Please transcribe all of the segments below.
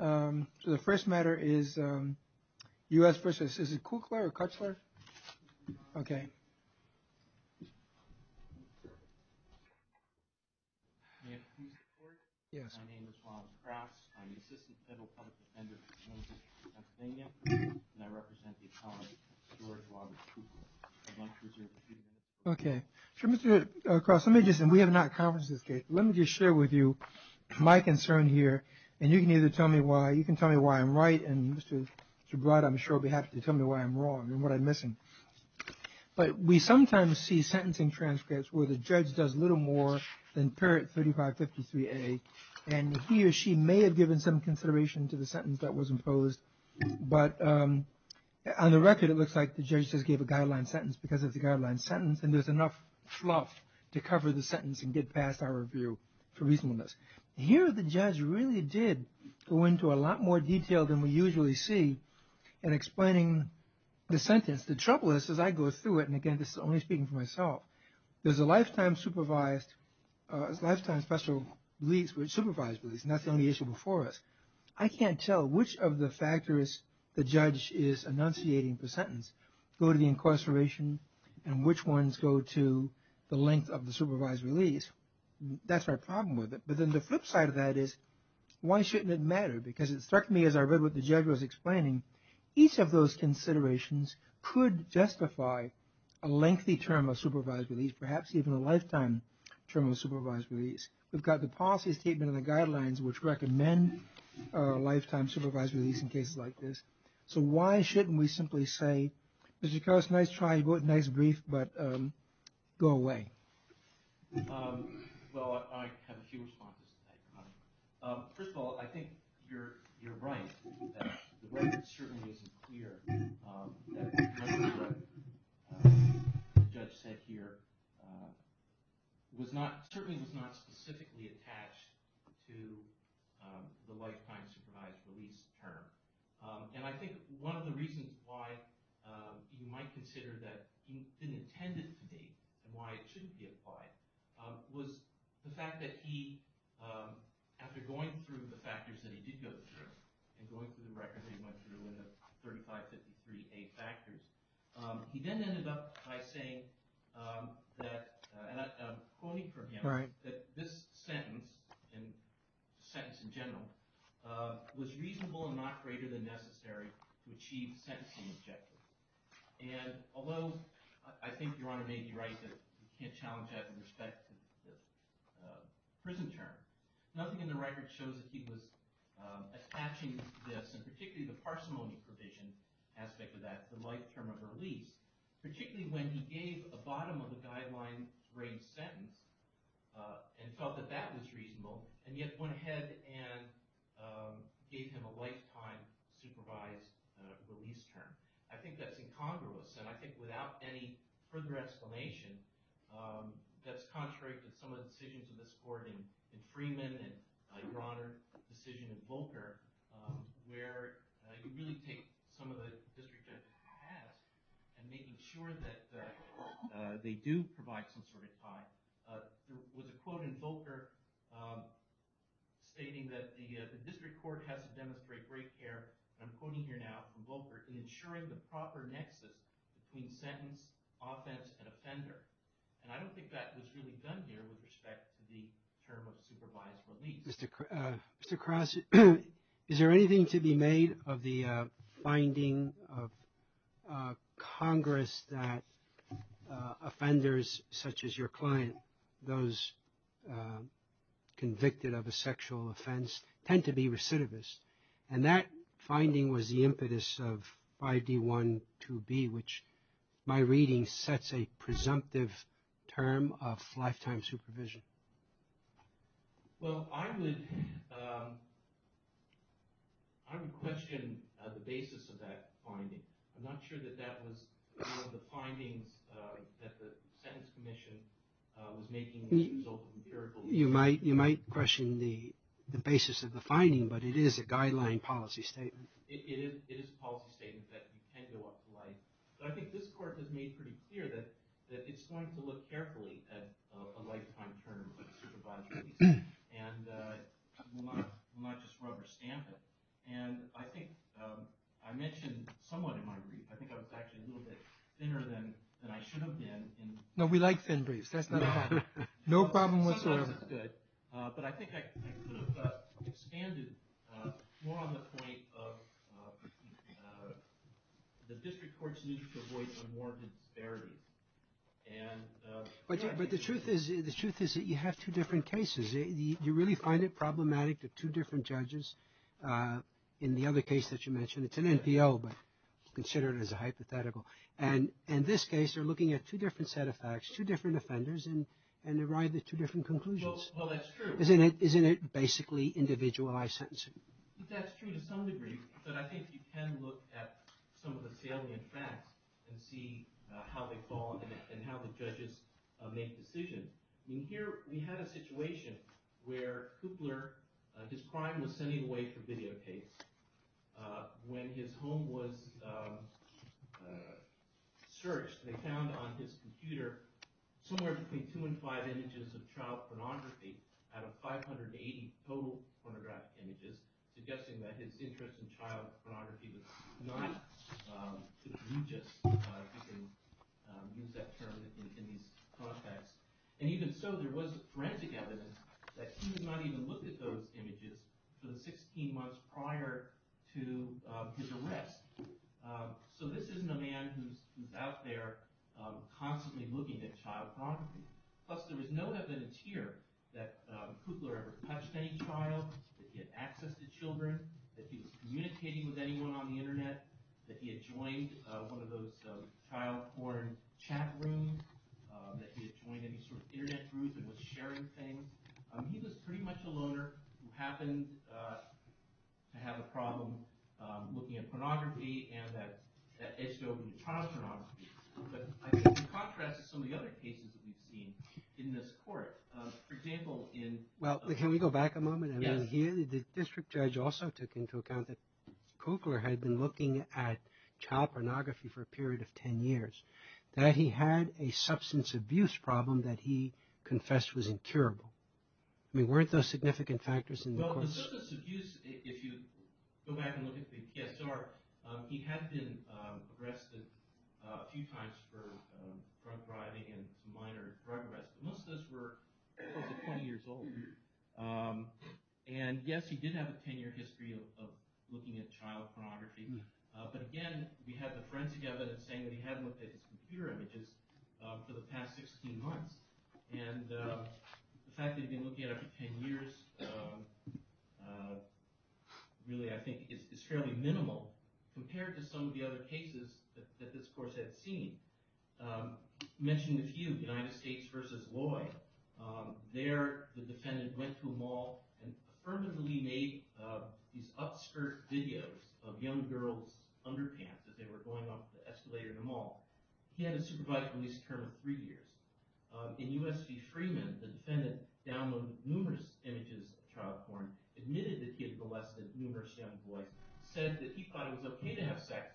August 26, 2018 Robert Kraus, Assistant Federal Public Defender of the United States of America, and I represent the Atomic Storage Law Group. I'd like to reserve a few minutes. Okay. Mr. Kraus, let me just say, we have not conferenced this case. Let me just share with you my concern here, and you can either tell me why. You can tell me why I'm right, and Mr. Broad, I'm sure, will be happy to tell me why I'm wrong and what I'm missing. But we sometimes see sentencing transcripts where the judge does little more than parrot 3553A, and he or she may have given some consideration to the sentence that was imposed, but on the record, it looks like the judge just gave a guideline sentence because it's a guideline sentence, and there's enough fluff to cover the sentence and get past our review for reasonableness. Here, the judge really did go into a lot more detail than we usually see in explaining the sentence. The trouble is, as I go through it, and again, this is only speaking for myself, there's a lifetime supervised release, not the only issue before us. I can't tell which of the factors the judge is enunciating per sentence go to the incarceration and which ones go to the length of the supervised release. That's our problem with it. But then the flip side of that is, why shouldn't it matter? Because it struck me as I read what the judge was explaining, each of those considerations could justify a lengthy term of supervised release, perhaps even a lifetime term of supervised release. We've got the policy statement and the guidelines which recommend a lifetime supervised release in cases like this. So why shouldn't we simply say, Mr. Carras, nice try, nice brief, but go away? Well, I have a few responses to that, Connie. First of all, I think you're right that the record certainly isn't clear. Most of what the judge said here certainly was not specifically attached to the lifetime supervised release term. And I think one of the reasons why you might consider that it's been intended to be and why it shouldn't be applied was the fact that he, after going through the factors that he did go through, and going through the records he went through in the 3553A factors, he then ended up by saying that, and I'm quoting from him, that this sentence, sentence in general, was reasonable and not greater than necessary to achieve sentencing objectives. And although I think Your Honor may be right that you can't challenge that with respect to the prison term, nothing in the record shows that he was attaching this, and particularly the parsimony provision aspect of that, the lifetime of release, particularly when he gave a bottom of the guideline range sentence and felt that that was reasonable, and yet went ahead and gave him a lifetime supervised release term. I think that's incongruous, and I think without any further explanation, that's contrary to some of the decisions of this court in Freeman and Your Honor's decision in Volcker, where you really take some of the district judge's hat and making sure that they do provide some sort of time. There was a quote in Volcker stating that the district court has to demonstrate great care, and I'm quoting here now from Volcker, in ensuring the proper nexus between sentence, offense, and offender. And I don't think that was really done here with respect to the term of supervised release. Mr. Cross, is there anything to be made of the finding of Congress that offenders such as your client, those convicted of a sexual offense, tend to be recidivists? And that finding was the impetus of 5D12B, which my reading sets a presumptive term of lifetime supervision. Well, I would question the basis of that finding. I'm not sure that that was one of the findings that the Sentence Commission was making as a result of empirical... You might question the basis of the finding, but it is a guideline policy statement. It is a policy statement that you can go up to life. But I think this court has made pretty clear that it's going to look carefully at a lifetime term of supervised release, and will not just rubber stamp it. And I think I mentioned somewhat in my brief, I think I was actually a little bit thinner than I should have been. No, we like thin briefs. That's not a problem. No problem whatsoever. Sometimes it's good. But I think I could have expanded more on the point of the district court's need to avoid unwarranted disparity. But the truth is that you have two different cases. You really find it problematic to two different judges. In the other case that you mentioned, it's an NPO, but consider it as a hypothetical. And in this case, you're looking at two different set of facts, two different offenders, and arrive at two different conclusions. Well, that's true. Isn't it basically individualized sentencing? That's true to some degree. But I think you can look at some of the salient facts and see how they fall and how the judges make decisions. In here, we had a situation where Coopler, his crime was sending away for videotapes. When his home was searched, they found on his computer somewhere between two and five images of child pornography out of 580 total pornographic images, suggesting that his And even so, there was forensic evidence that he was not even looking at those images for the 16 months prior to his arrest. So this isn't a man who's out there constantly looking at child pornography. Plus, there was no evidence here that Coopler ever touched any child, that he had access to children, that he was communicating with anyone on the internet, that he had joined one of those child porn chat rooms, that he had joined any sort of internet groups and was sharing things. He was pretty much a loner who happened to have a problem looking at pornography and that edged over into child pornography. But I think in contrast to some of the other cases that we've seen in this court, for example, in... Well, can we go back a moment? Yes. I mean, here, the district judge also took into account that Coopler had been looking at child pornography for a period of 10 years, that he had a substance abuse problem that he confessed was incurable. I mean, weren't those significant factors in the court's... Well, the substance abuse, if you go back and look at the TSR, he had been arrested a few times for drug driving and minor drug arrest. Most of those were close to 20 years old. And yes, he did have a 10-year history of looking at child pornography. But again, we had the forensic evidence saying that he hadn't looked at his computer images for the past 16 months. And the fact that he'd been looking at it for 10 years really, I think, is fairly minimal compared to some of the other cases that this court had seen. I mentioned a few. United States v. Loy. There, the defendant went to a mall and affirmatively made these upskirt videos of young girls' underpants as they were going up the escalator in a mall. He hadn't supervised police term in three years. In U.S. v. Freeman, the defendant downloaded numerous images of child porn, admitted that he had molested numerous young boys, said that he thought it was okay to have sex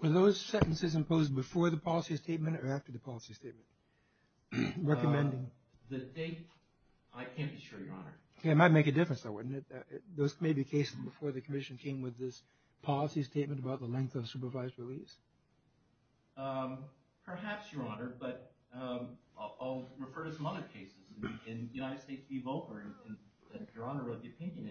with Were those sentences imposed before the policy statement or after the policy statement? The date, I can't be sure, Your Honor. It might make a difference, though, wouldn't it? Those may be cases before the commission came with this policy statement about the length of supervised release. Perhaps, Your Honor, but I'll refer to some other cases. In United States v. Volcker, that Your Honor wrote the opinion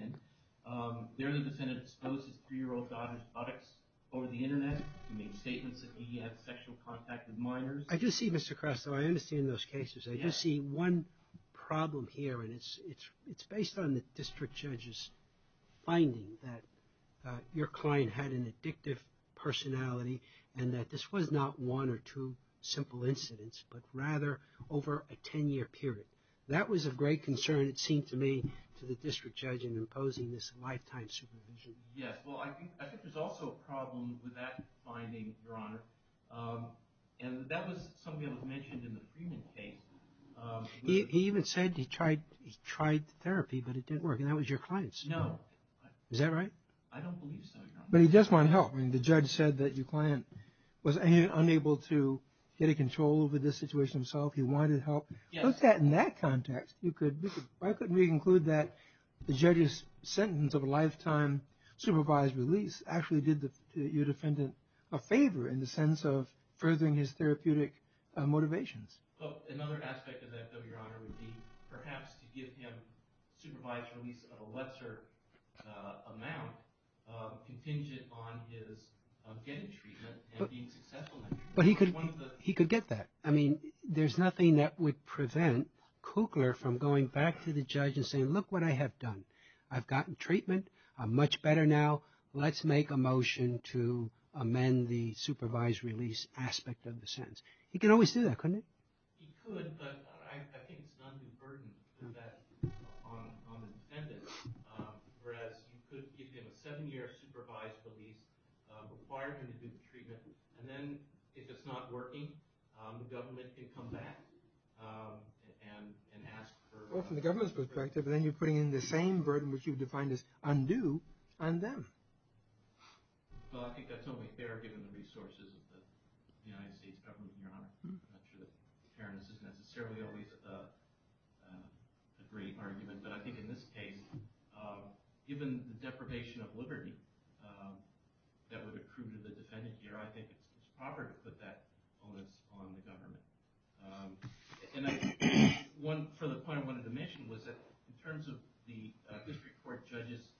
in, there the defendant exposed his three-year-old daughter's buttocks over the Internet. He made statements that he had sexual contact with minors. I do see, Mr. Kressler, I understand those cases. I do see one problem here, and it's based on the district judge's finding that your client had an addictive personality and that this was not one or two simple incidents, but rather over a 10-year period. That was of great concern, it seemed to me, to the district judge in imposing this lifetime supervision. Yes. Well, I think there's also a problem with that finding, Your Honor, and that was something that was mentioned in the Freeman case. He even said he tried therapy, but it didn't work, and that was your client's. No. Is that right? I don't believe so, Your Honor. But he just wanted help. I mean, the judge said that your client was unable to get a control over the situation himself. He wanted help. Yes. Well, if you put that in that context, why couldn't we include that the judge's sentence of a lifetime supervised release actually did your defendant a favor in the sense of furthering his therapeutic motivations? Another aspect of that, though, Your Honor, would be perhaps to give him supervised release of a lesser amount contingent on his getting treatment and being successful in it. But he could get that. I mean, there's nothing that would prevent Kukler from going back to the judge and saying, look what I have done. I've gotten treatment. I'm much better now. Let's make a motion to amend the supervised release aspect of the sentence. He could always do that, couldn't he? He could, but I think it's not a good burden to do that on the defendant, whereas you could give him a seven-year supervised release requirement to do the treatment, and then if it's not working, the government could come back and ask for... Well, from the government's perspective, then you're putting in the same burden which you defined as undue on them. Well, I think that's only fair given the resources of the United States government, Your Honor. I'm not sure that fairness is necessarily always a great argument, but I think in this case, given the deprivation of liberty that would accrue to the defendant here, I think it's fair to say that there's a lot of components on the government. One further point I wanted to mention was that in terms of the district court judge's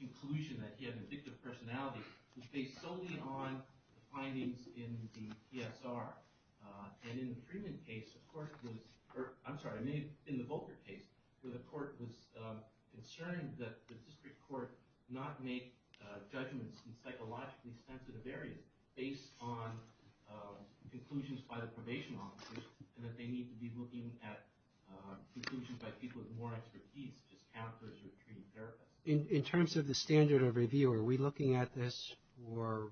conclusion that he had an addictive personality, it was based solely on the findings in the PSR, and in the Volcker case, where the court was concerned that the district court not make judgments in psychologically sensitive areas based on conclusions by the probation officers and that they need to be looking at conclusions by people with more expertise such as counselors or treatment therapists. In terms of the standard of review, are we looking at this for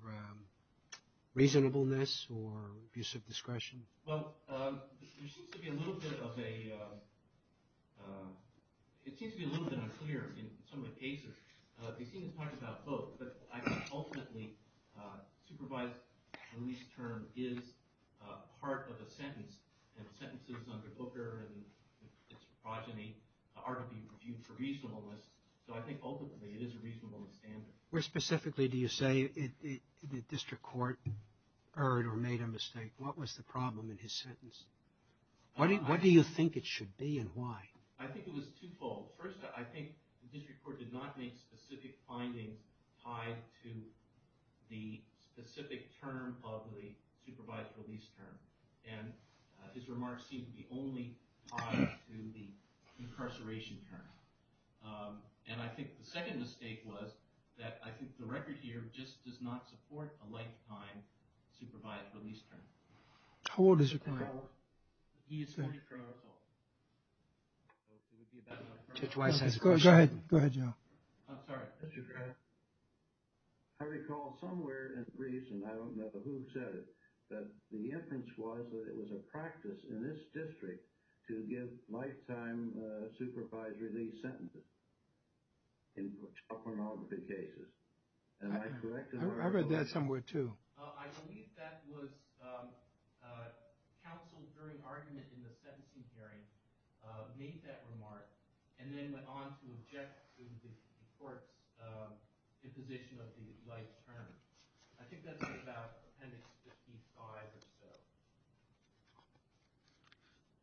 reasonableness or abuse of discretion? Well, there seems to be a little bit of a... They seem to talk about both, but I think ultimately supervised release term is part of a sentence, and sentences under Volcker and its progeny are to be reviewed for reasonableness, so I think ultimately it is a reasonableness standard. Where specifically do you say the district court erred or made a mistake? What was the problem in his sentence? What do you think it should be and why? I think it was twofold. First, I think the district court did not make specific findings tied to the specific term of the supervised release term, and his remarks seem to be only tied to the incarceration term. And I think the second mistake was that I think the record here just does not support a lifetime supervised release term. How old is your client? He is 20 years old. Go ahead, go ahead, Joe. I'm sorry. I recall somewhere in the briefs, and I don't know who said it, but the inference was that it was a practice in this district to give lifetime supervised release sentences in pornography cases. Am I correct? I read that somewhere too. I believe that was counsel during argument in the sentencing hearing made that remark and then went on to object to the court's imposition of the life term. I think that's about appendix 55 or so.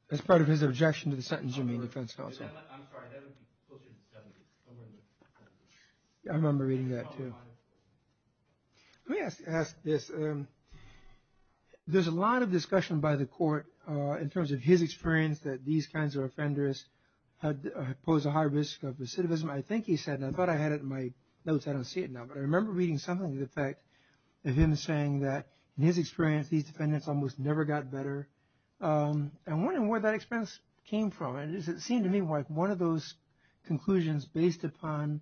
That's part of his objection to the sentence you made, defense counsel. I'm sorry, that would be closer to 70. I remember reading that too. Let me ask this. There's a lot of discussion by the court in terms of his experience that these kinds of offenders pose a high risk of recidivism. I think he said, and I thought I had it in my notes. I don't see it now, but I remember reading something to the effect of him saying that in his experience, these defendants almost never got better. I'm wondering where that experience came from. It seemed to me like one of those conclusions based upon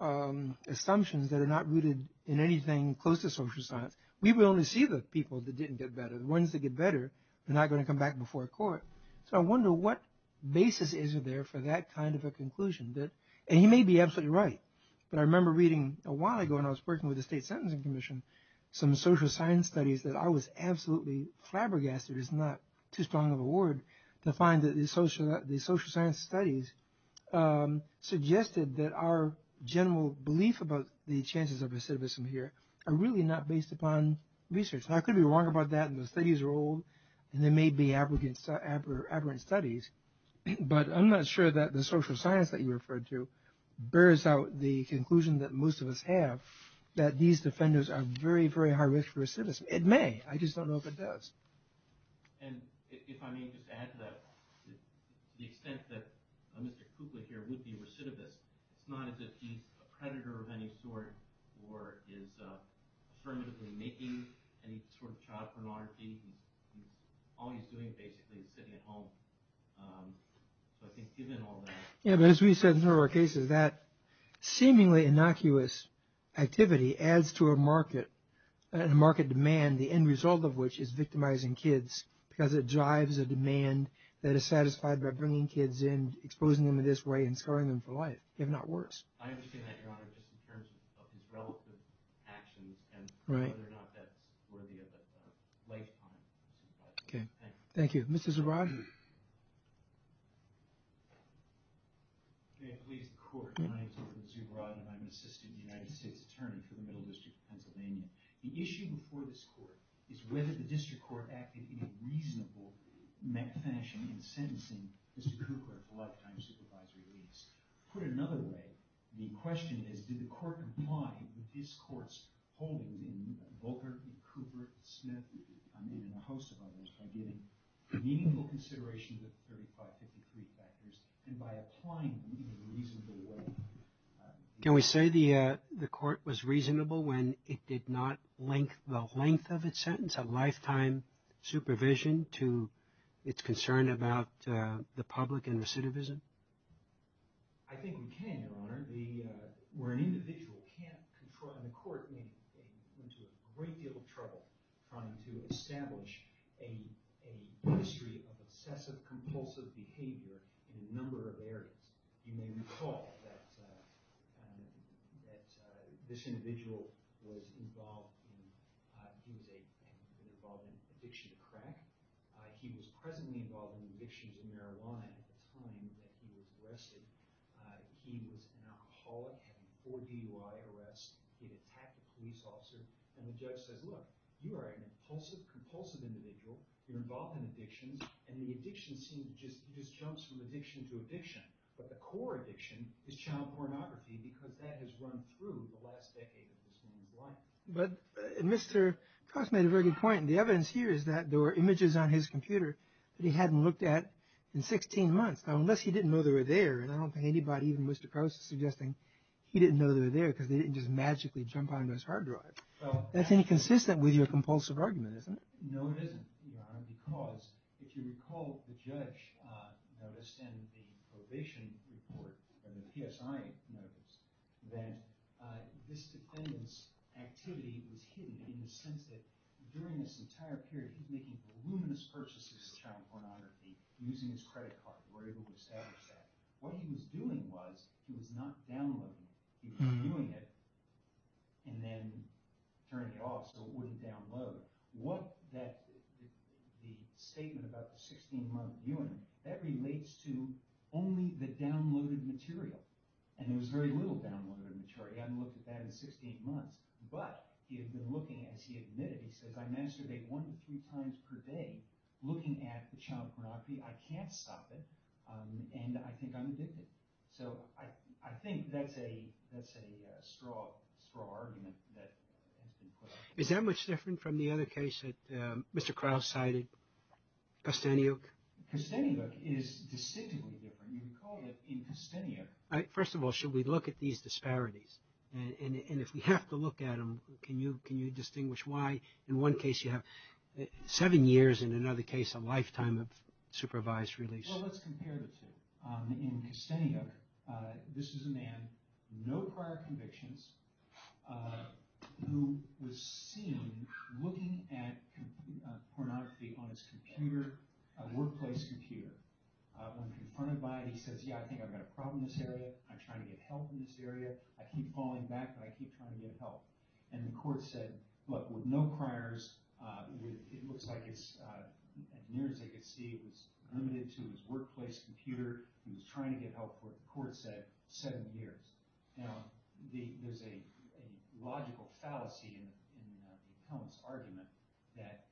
assumptions that are not rooted in anything close to social science. We will only see the people that didn't get better. The ones that get better are not going to come back before a court. I wonder what basis is there for that kind of a conclusion. He may be absolutely right, but I remember reading a while ago when I was working with the State Sentencing Commission some social science studies that I was absolutely flabbergasted it's not too strong of a word to find that the social science studies suggested that our general belief about the chances of recidivism here are really not based upon research. Now I could be wrong about that and the studies are old and they may be aberrant studies, but I'm not sure that the social science that you referred to bears out the conclusion that most of us have that these offenders are very, very high risk for recidivism. It may, I just don't know if it does. And if I may just add to that, to the extent that Mr. Kukla here would be a recidivist, it's not as if he's a predator of any sort or is affirmatively making any sort of child pornography. All he's doing basically is sitting at home. So I think given all that... Yeah, but as we said in some of our cases that seemingly innocuous activity adds to a market demand, the end result of which is victimizing kids because it drives a demand that is satisfied by bringing kids in, exposing them in this way and scarring them for life, if not worse. I understand that, Your Honor, just in terms of his relative actions and whether or not that's worthy of a lifetime. Okay, thank you. Mr. Zubrodny. Okay, I believe the court. My name is Gordon Zubrodny and I'm an assistant United States Attorney for the Middle District of Pennsylvania. The issue before this court is whether the district court acted in a reasonable fashion in sentencing Mr. Kukla, a lifetime supervisory release. Put another way, the question is did the court comply with this court's holding in Volker and Cooper and Smith and a host of others by giving meaningful consideration to the 35-53 factors and by applying them in a reasonable way. Can we say the court was reasonable when it did not link the length of its sentence, a lifetime supervision to its concern about the public and recidivism? Where an individual can't control, and the court went into a great deal of trouble trying to establish a history of excessive, compulsive behavior in a number of areas. You may recall that this individual was involved in addiction to crack. He was presently involved in addictions to marijuana at the time that he was arrested. He was an alcoholic, had a four DUI arrest. He had attacked a police officer. And the judge says, look, you are an impulsive, compulsive individual. You're involved in addictions. And the addiction just jumps from addiction to addiction. But the core addiction is child pornography because that has run through the last decade of this woman's life. But Mr. Kukla made a very good point. The evidence here is that there were images on his computer that he hadn't looked at in 16 months, unless he didn't know they were there. And I don't think anybody, even Mr. Krause, is suggesting he didn't know they were there because they didn't just magically jump onto his hard drive. That's inconsistent with your compulsive argument, isn't it? No, it isn't, Your Honor, because if you recall, the judge noticed in the probation report, the PSI noticed that this defendant's activity was hidden in the sense that during this entire period, he was making voluminous purchases of child pornography using his credit card. We're able to establish that. What he was doing was he was not downloading it. He was viewing it and then turning it off so it wouldn't download. The statement about the 16-month viewing, that relates to only the downloaded material. And there was very little downloaded material. He hadn't looked at that in 16 months. But he had been looking as he admitted. He says, I masturbate one to three times per day looking at the child pornography. I can't stop it. And I think I'm addicted. So I think that's a straw argument that has been put up. Is that much different from the other case that Mr. Krause cited, Kosteniuk? Kosteniuk is distinctively different. You recall that in Kosteniuk, first of all, should we look at these disparities? And if we have to look at them, can you distinguish why in one case you have seven years, in another case a lifetime of supervised release? Well, let's compare the two. In Kosteniuk, this is a man, no prior convictions, who was seen looking at pornography on his computer, a workplace computer. When confronted by it, he says, yeah, I think I've got a problem in this area. I'm trying to get help in this area. I keep falling back, but I keep trying to get help. And the court said, look, with no priors, it looks like as near as they could see, it was limited to his workplace computer. He was trying to get help for, the court said, seven years. Now, there's a logical fallacy in the appellant's argument that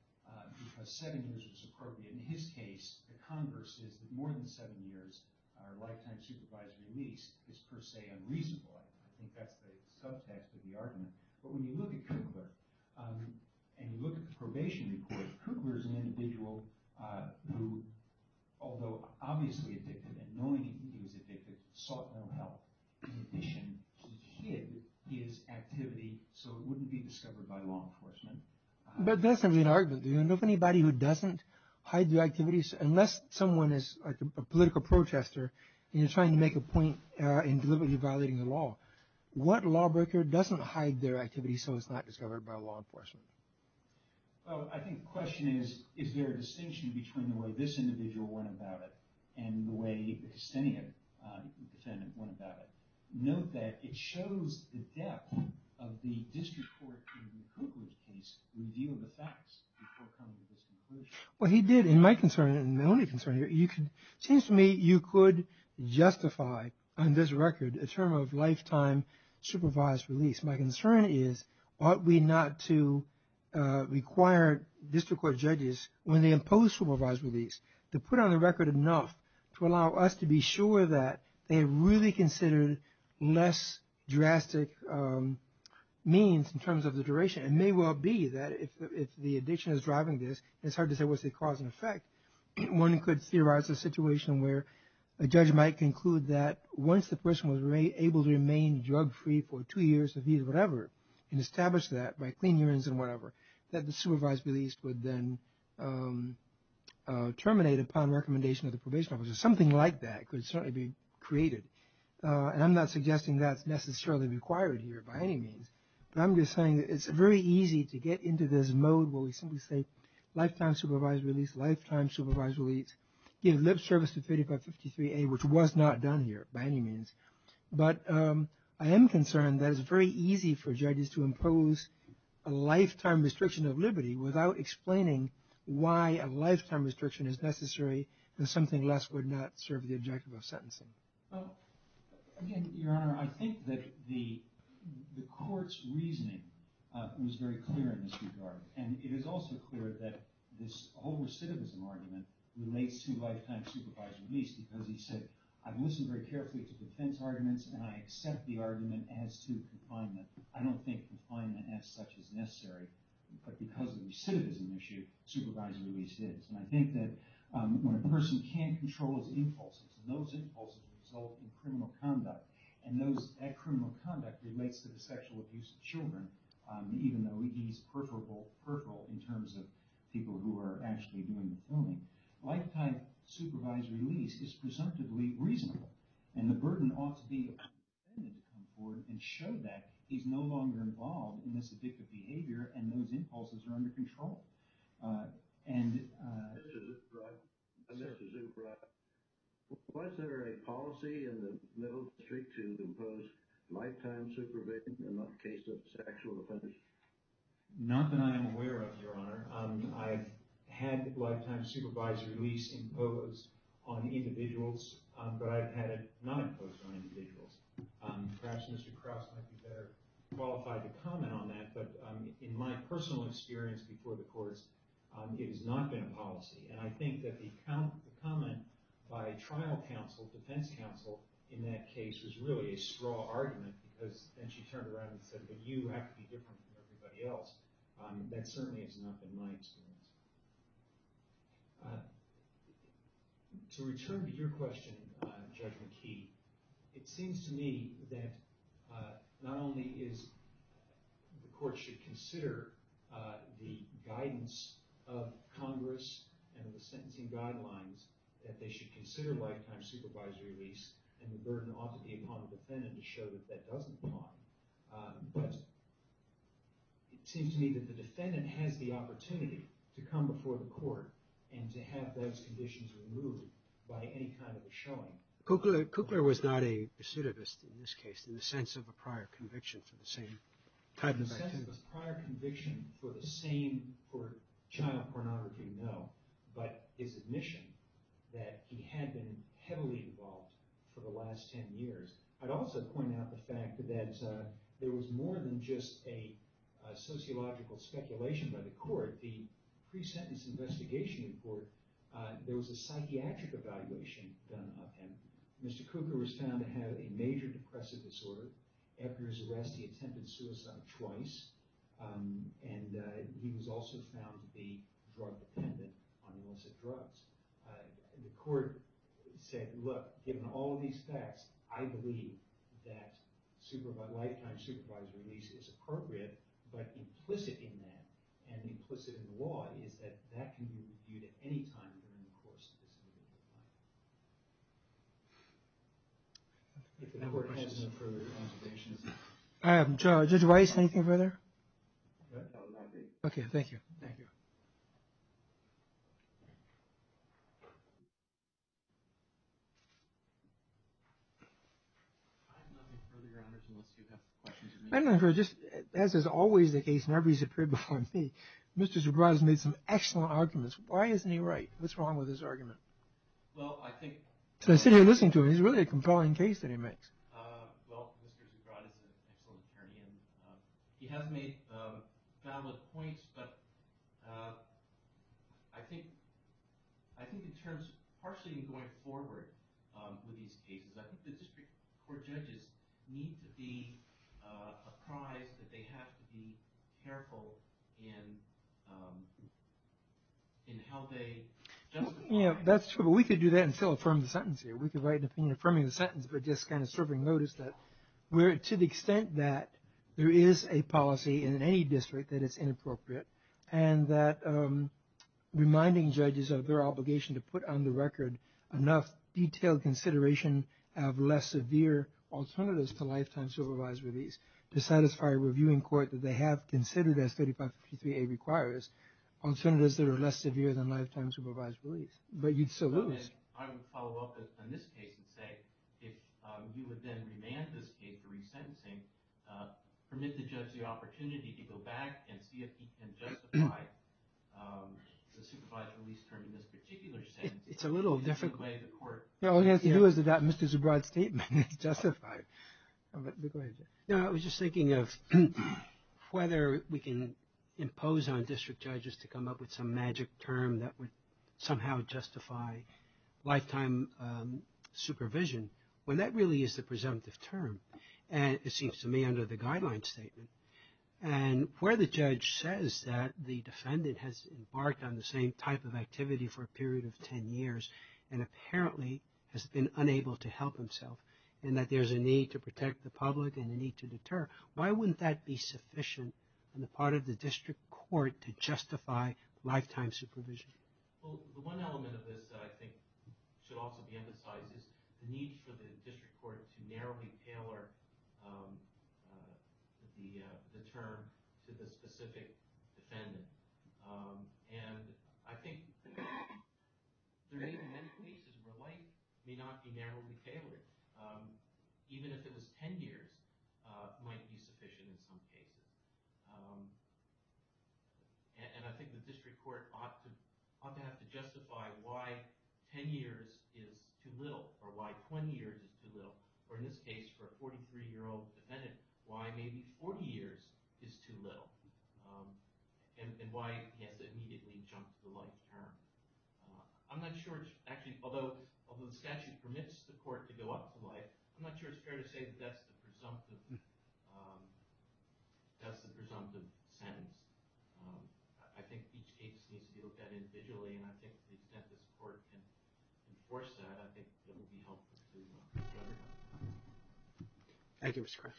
because seven years was appropriate. In his case, the converse is that more than seven years, our lifetime supervised release is per se unreasonable. I think that's the subtext of the argument. But when you look at Kukler, and you look at the probation report, Kukler is an individual who, although obviously addicted, and knowing he was addicted, sought no help. In addition, he hid his activity so it wouldn't be discovered by law enforcement. But that's going to be an argument. If anybody who doesn't hide their activities, unless someone is a political protester, and you're trying to make a point in deliberately violating the law, what lawbreaker doesn't hide their activity so it's not discovered by law enforcement? Well, I think the question is, is there a distinction between the way this individual went about it and the way the Houstonian defendant went about it? Note that it shows the depth of the district court in Kukler's case, the review of the facts before coming to this conclusion. Well, he did. And my concern, and my only concern, seems to me you could justify on this record a term of lifetime supervised release. My concern is ought we not to require district court judges, when they impose supervised release, to put on the record enough to allow us to be sure that they really considered less drastic means in terms of the duration. It may well be that if the addiction is driving this, it's hard to say what's the cause and effect. One could theorize a situation where a judge might conclude that once the person was able to remain drug-free for two years, or whatever, and establish that by clean urines and whatever, that the supervised release would then terminate upon recommendation of the probation officer. Something like that could certainly be created. And I'm not suggesting that's necessarily required here by any means. But I'm just saying it's very easy to get into this mode where we simply say lifetime supervised release, lifetime supervised release, give lip service to 3553A, which was not done here by any means. But I am concerned that it's very easy for judges to impose a lifetime restriction of liberty without explaining why a lifetime restriction is necessary if something less would not serve the objective of sentencing. Again, Your Honor, I think that the court's reasoning was very clear in this regard. And it is also clear that this whole recidivism argument relates to lifetime supervised release because he said, I've listened very carefully to defense arguments and I accept the argument as to confinement. I don't think confinement as such is necessary. But because of the recidivism issue, supervised release is. And I think that when a person can't control his impulses, and those impulses result in criminal conduct, and that criminal conduct relates to the sexual abuse of children, even though he's preferable in terms of people who are actually doing the killing, lifetime supervised release is presumptively reasonable. And the burden ought to be appropriated to come forward and show that he's no longer involved in this addictive behavior and those impulses are under control. And... Mr. Zubrod, was there a policy in the Middle District to impose lifetime supervision in the case of sexual offenders? Not that I am aware of, Your Honor. I've had lifetime supervised release imposed on individuals, but I've had it not imposed on individuals. Perhaps Mr. Krauss might be better qualified to comment on that, but in my personal experience before the courts, it has not been a policy. And I think that the comment by trial counsel, defense counsel, in that case was really a straw argument, because then she turned around and said, but you have to be different from everybody else. That certainly has not been my experience. To return to your question, Judge McKee, it seems to me that not only is the court should consider the guidance of Congress and the sentencing guidelines, that they should consider lifetime supervisory release and the burden ought to be upon the defendant to show that that doesn't apply, but it seems to me that the defendant has the opportunity to come before the court and to have those conditions removed by any kind of a showing. Cookler was not a pursuit of this in this case in the sense of a prior conviction for the same type of activity. In the sense of a prior conviction for the same child pornography, no, but his admission that he had been heavily involved for the last ten years. I'd also point out the fact that there was more than just a sociological speculation by the court. The pre-sentence investigation in court, there was a psychiatric evaluation done of him. Mr. Cooker was found to have a major depressive disorder. After his arrest, he attempted suicide twice, and he was also found to be drug dependent on illicit drugs. The court said, look, given all of these facts, I believe that lifetime supervisory release is appropriate, but implicit in that and implicit in the law is that that can be reviewed at any time during the course of this committee. If the member has no further observations. I have no further comments. Judge Weiss, anything further? That would be it. Okay, thank you. Thank you. I have no further comments unless you have questions of me. As is always the case whenever he's appeared before me, Mr. Zubrod has made some excellent arguments. Why isn't he right? What's wrong with his argument? Well, I think. I sit here listening to him. He's really a compelling case that he makes. Well, Mr. Zubrod is an excellent attorney, and he has made valid points, but I think in terms of partially going forward with these cases, I think the district court judges need to be apprised that they have to be careful in how they justify. That's true, but we could do that and still affirm the sentence here. We could write an opinion affirming the sentence, but just kind of serving notice that to the extent that there is a policy in any district that it's inappropriate and that reminding judges of their obligation to put on the record enough detailed consideration of less severe alternatives to lifetime supervised release to satisfy a reviewing court that they have considered as 3553A requires on senators that are less severe than lifetime supervised release. But you'd still lose. I would follow up on this case and say, if you would then remand this case for resentencing, permit the judge the opportunity to go back and see if he can justify the supervised release term in this particular sentence. It's a little different. All it has to do is that Mr. Zubrod's statement is justified. I was just thinking of whether we can impose on district judges to come up with some magic term that would somehow justify lifetime supervision when that really is the presumptive term. And it seems to me under the guideline statement. And where the judge says that the defendant has embarked on the same type of activity for a period of 10 years and apparently has been unable to help himself and that there's a need to protect the public and a need to deter, why wouldn't that be sufficient on the part of the district court to justify lifetime supervision? Well, the one element of this that I think should also be emphasized is the need for the district court to narrowly tailor the term to the specific defendant. And I think there may be many cases where life may not be narrowly tailored. Even if it was 10 years, it might be sufficient in some cases. And I think the district court ought to have to justify why 10 years is too little or why 20 years is too little. Or in this case, for a 43-year-old defendant, why maybe 40 years is too little. And why he has to immediately jump the life term. I'm not sure it's actually, although the statute permits the court to go up to life, I'm not sure it's fair to say that that's the presumptive sentence. I think each case needs to be looked at individually and I think that this court can enforce that. I think that will be helpful to everyone. Thank you, Mr. Kress.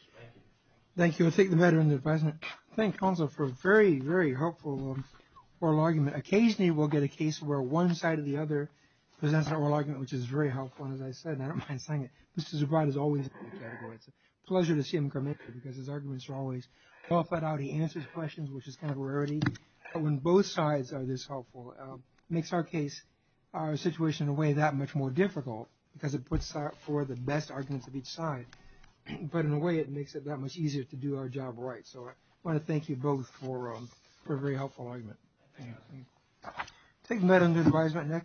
Thank you. I'm going to take the matter into the president. Thank counsel for a very, very helpful oral argument. Occasionally we'll get a case where one side of the other presents an oral argument, which is very helpful, and as I said, I don't mind saying it, Mr. Zubrod is always in the category. It's a pleasure to see him come in because his arguments are always well thought out. He answers questions, which is kind of a rarity. When both sides are this helpful, it makes our case, our situation in a way, that much more difficult because it puts out for the best arguments of each side. But in a way, it makes it that much easier to do our job right. So I want to thank you both for a very helpful argument. I'll take the matter into advisement.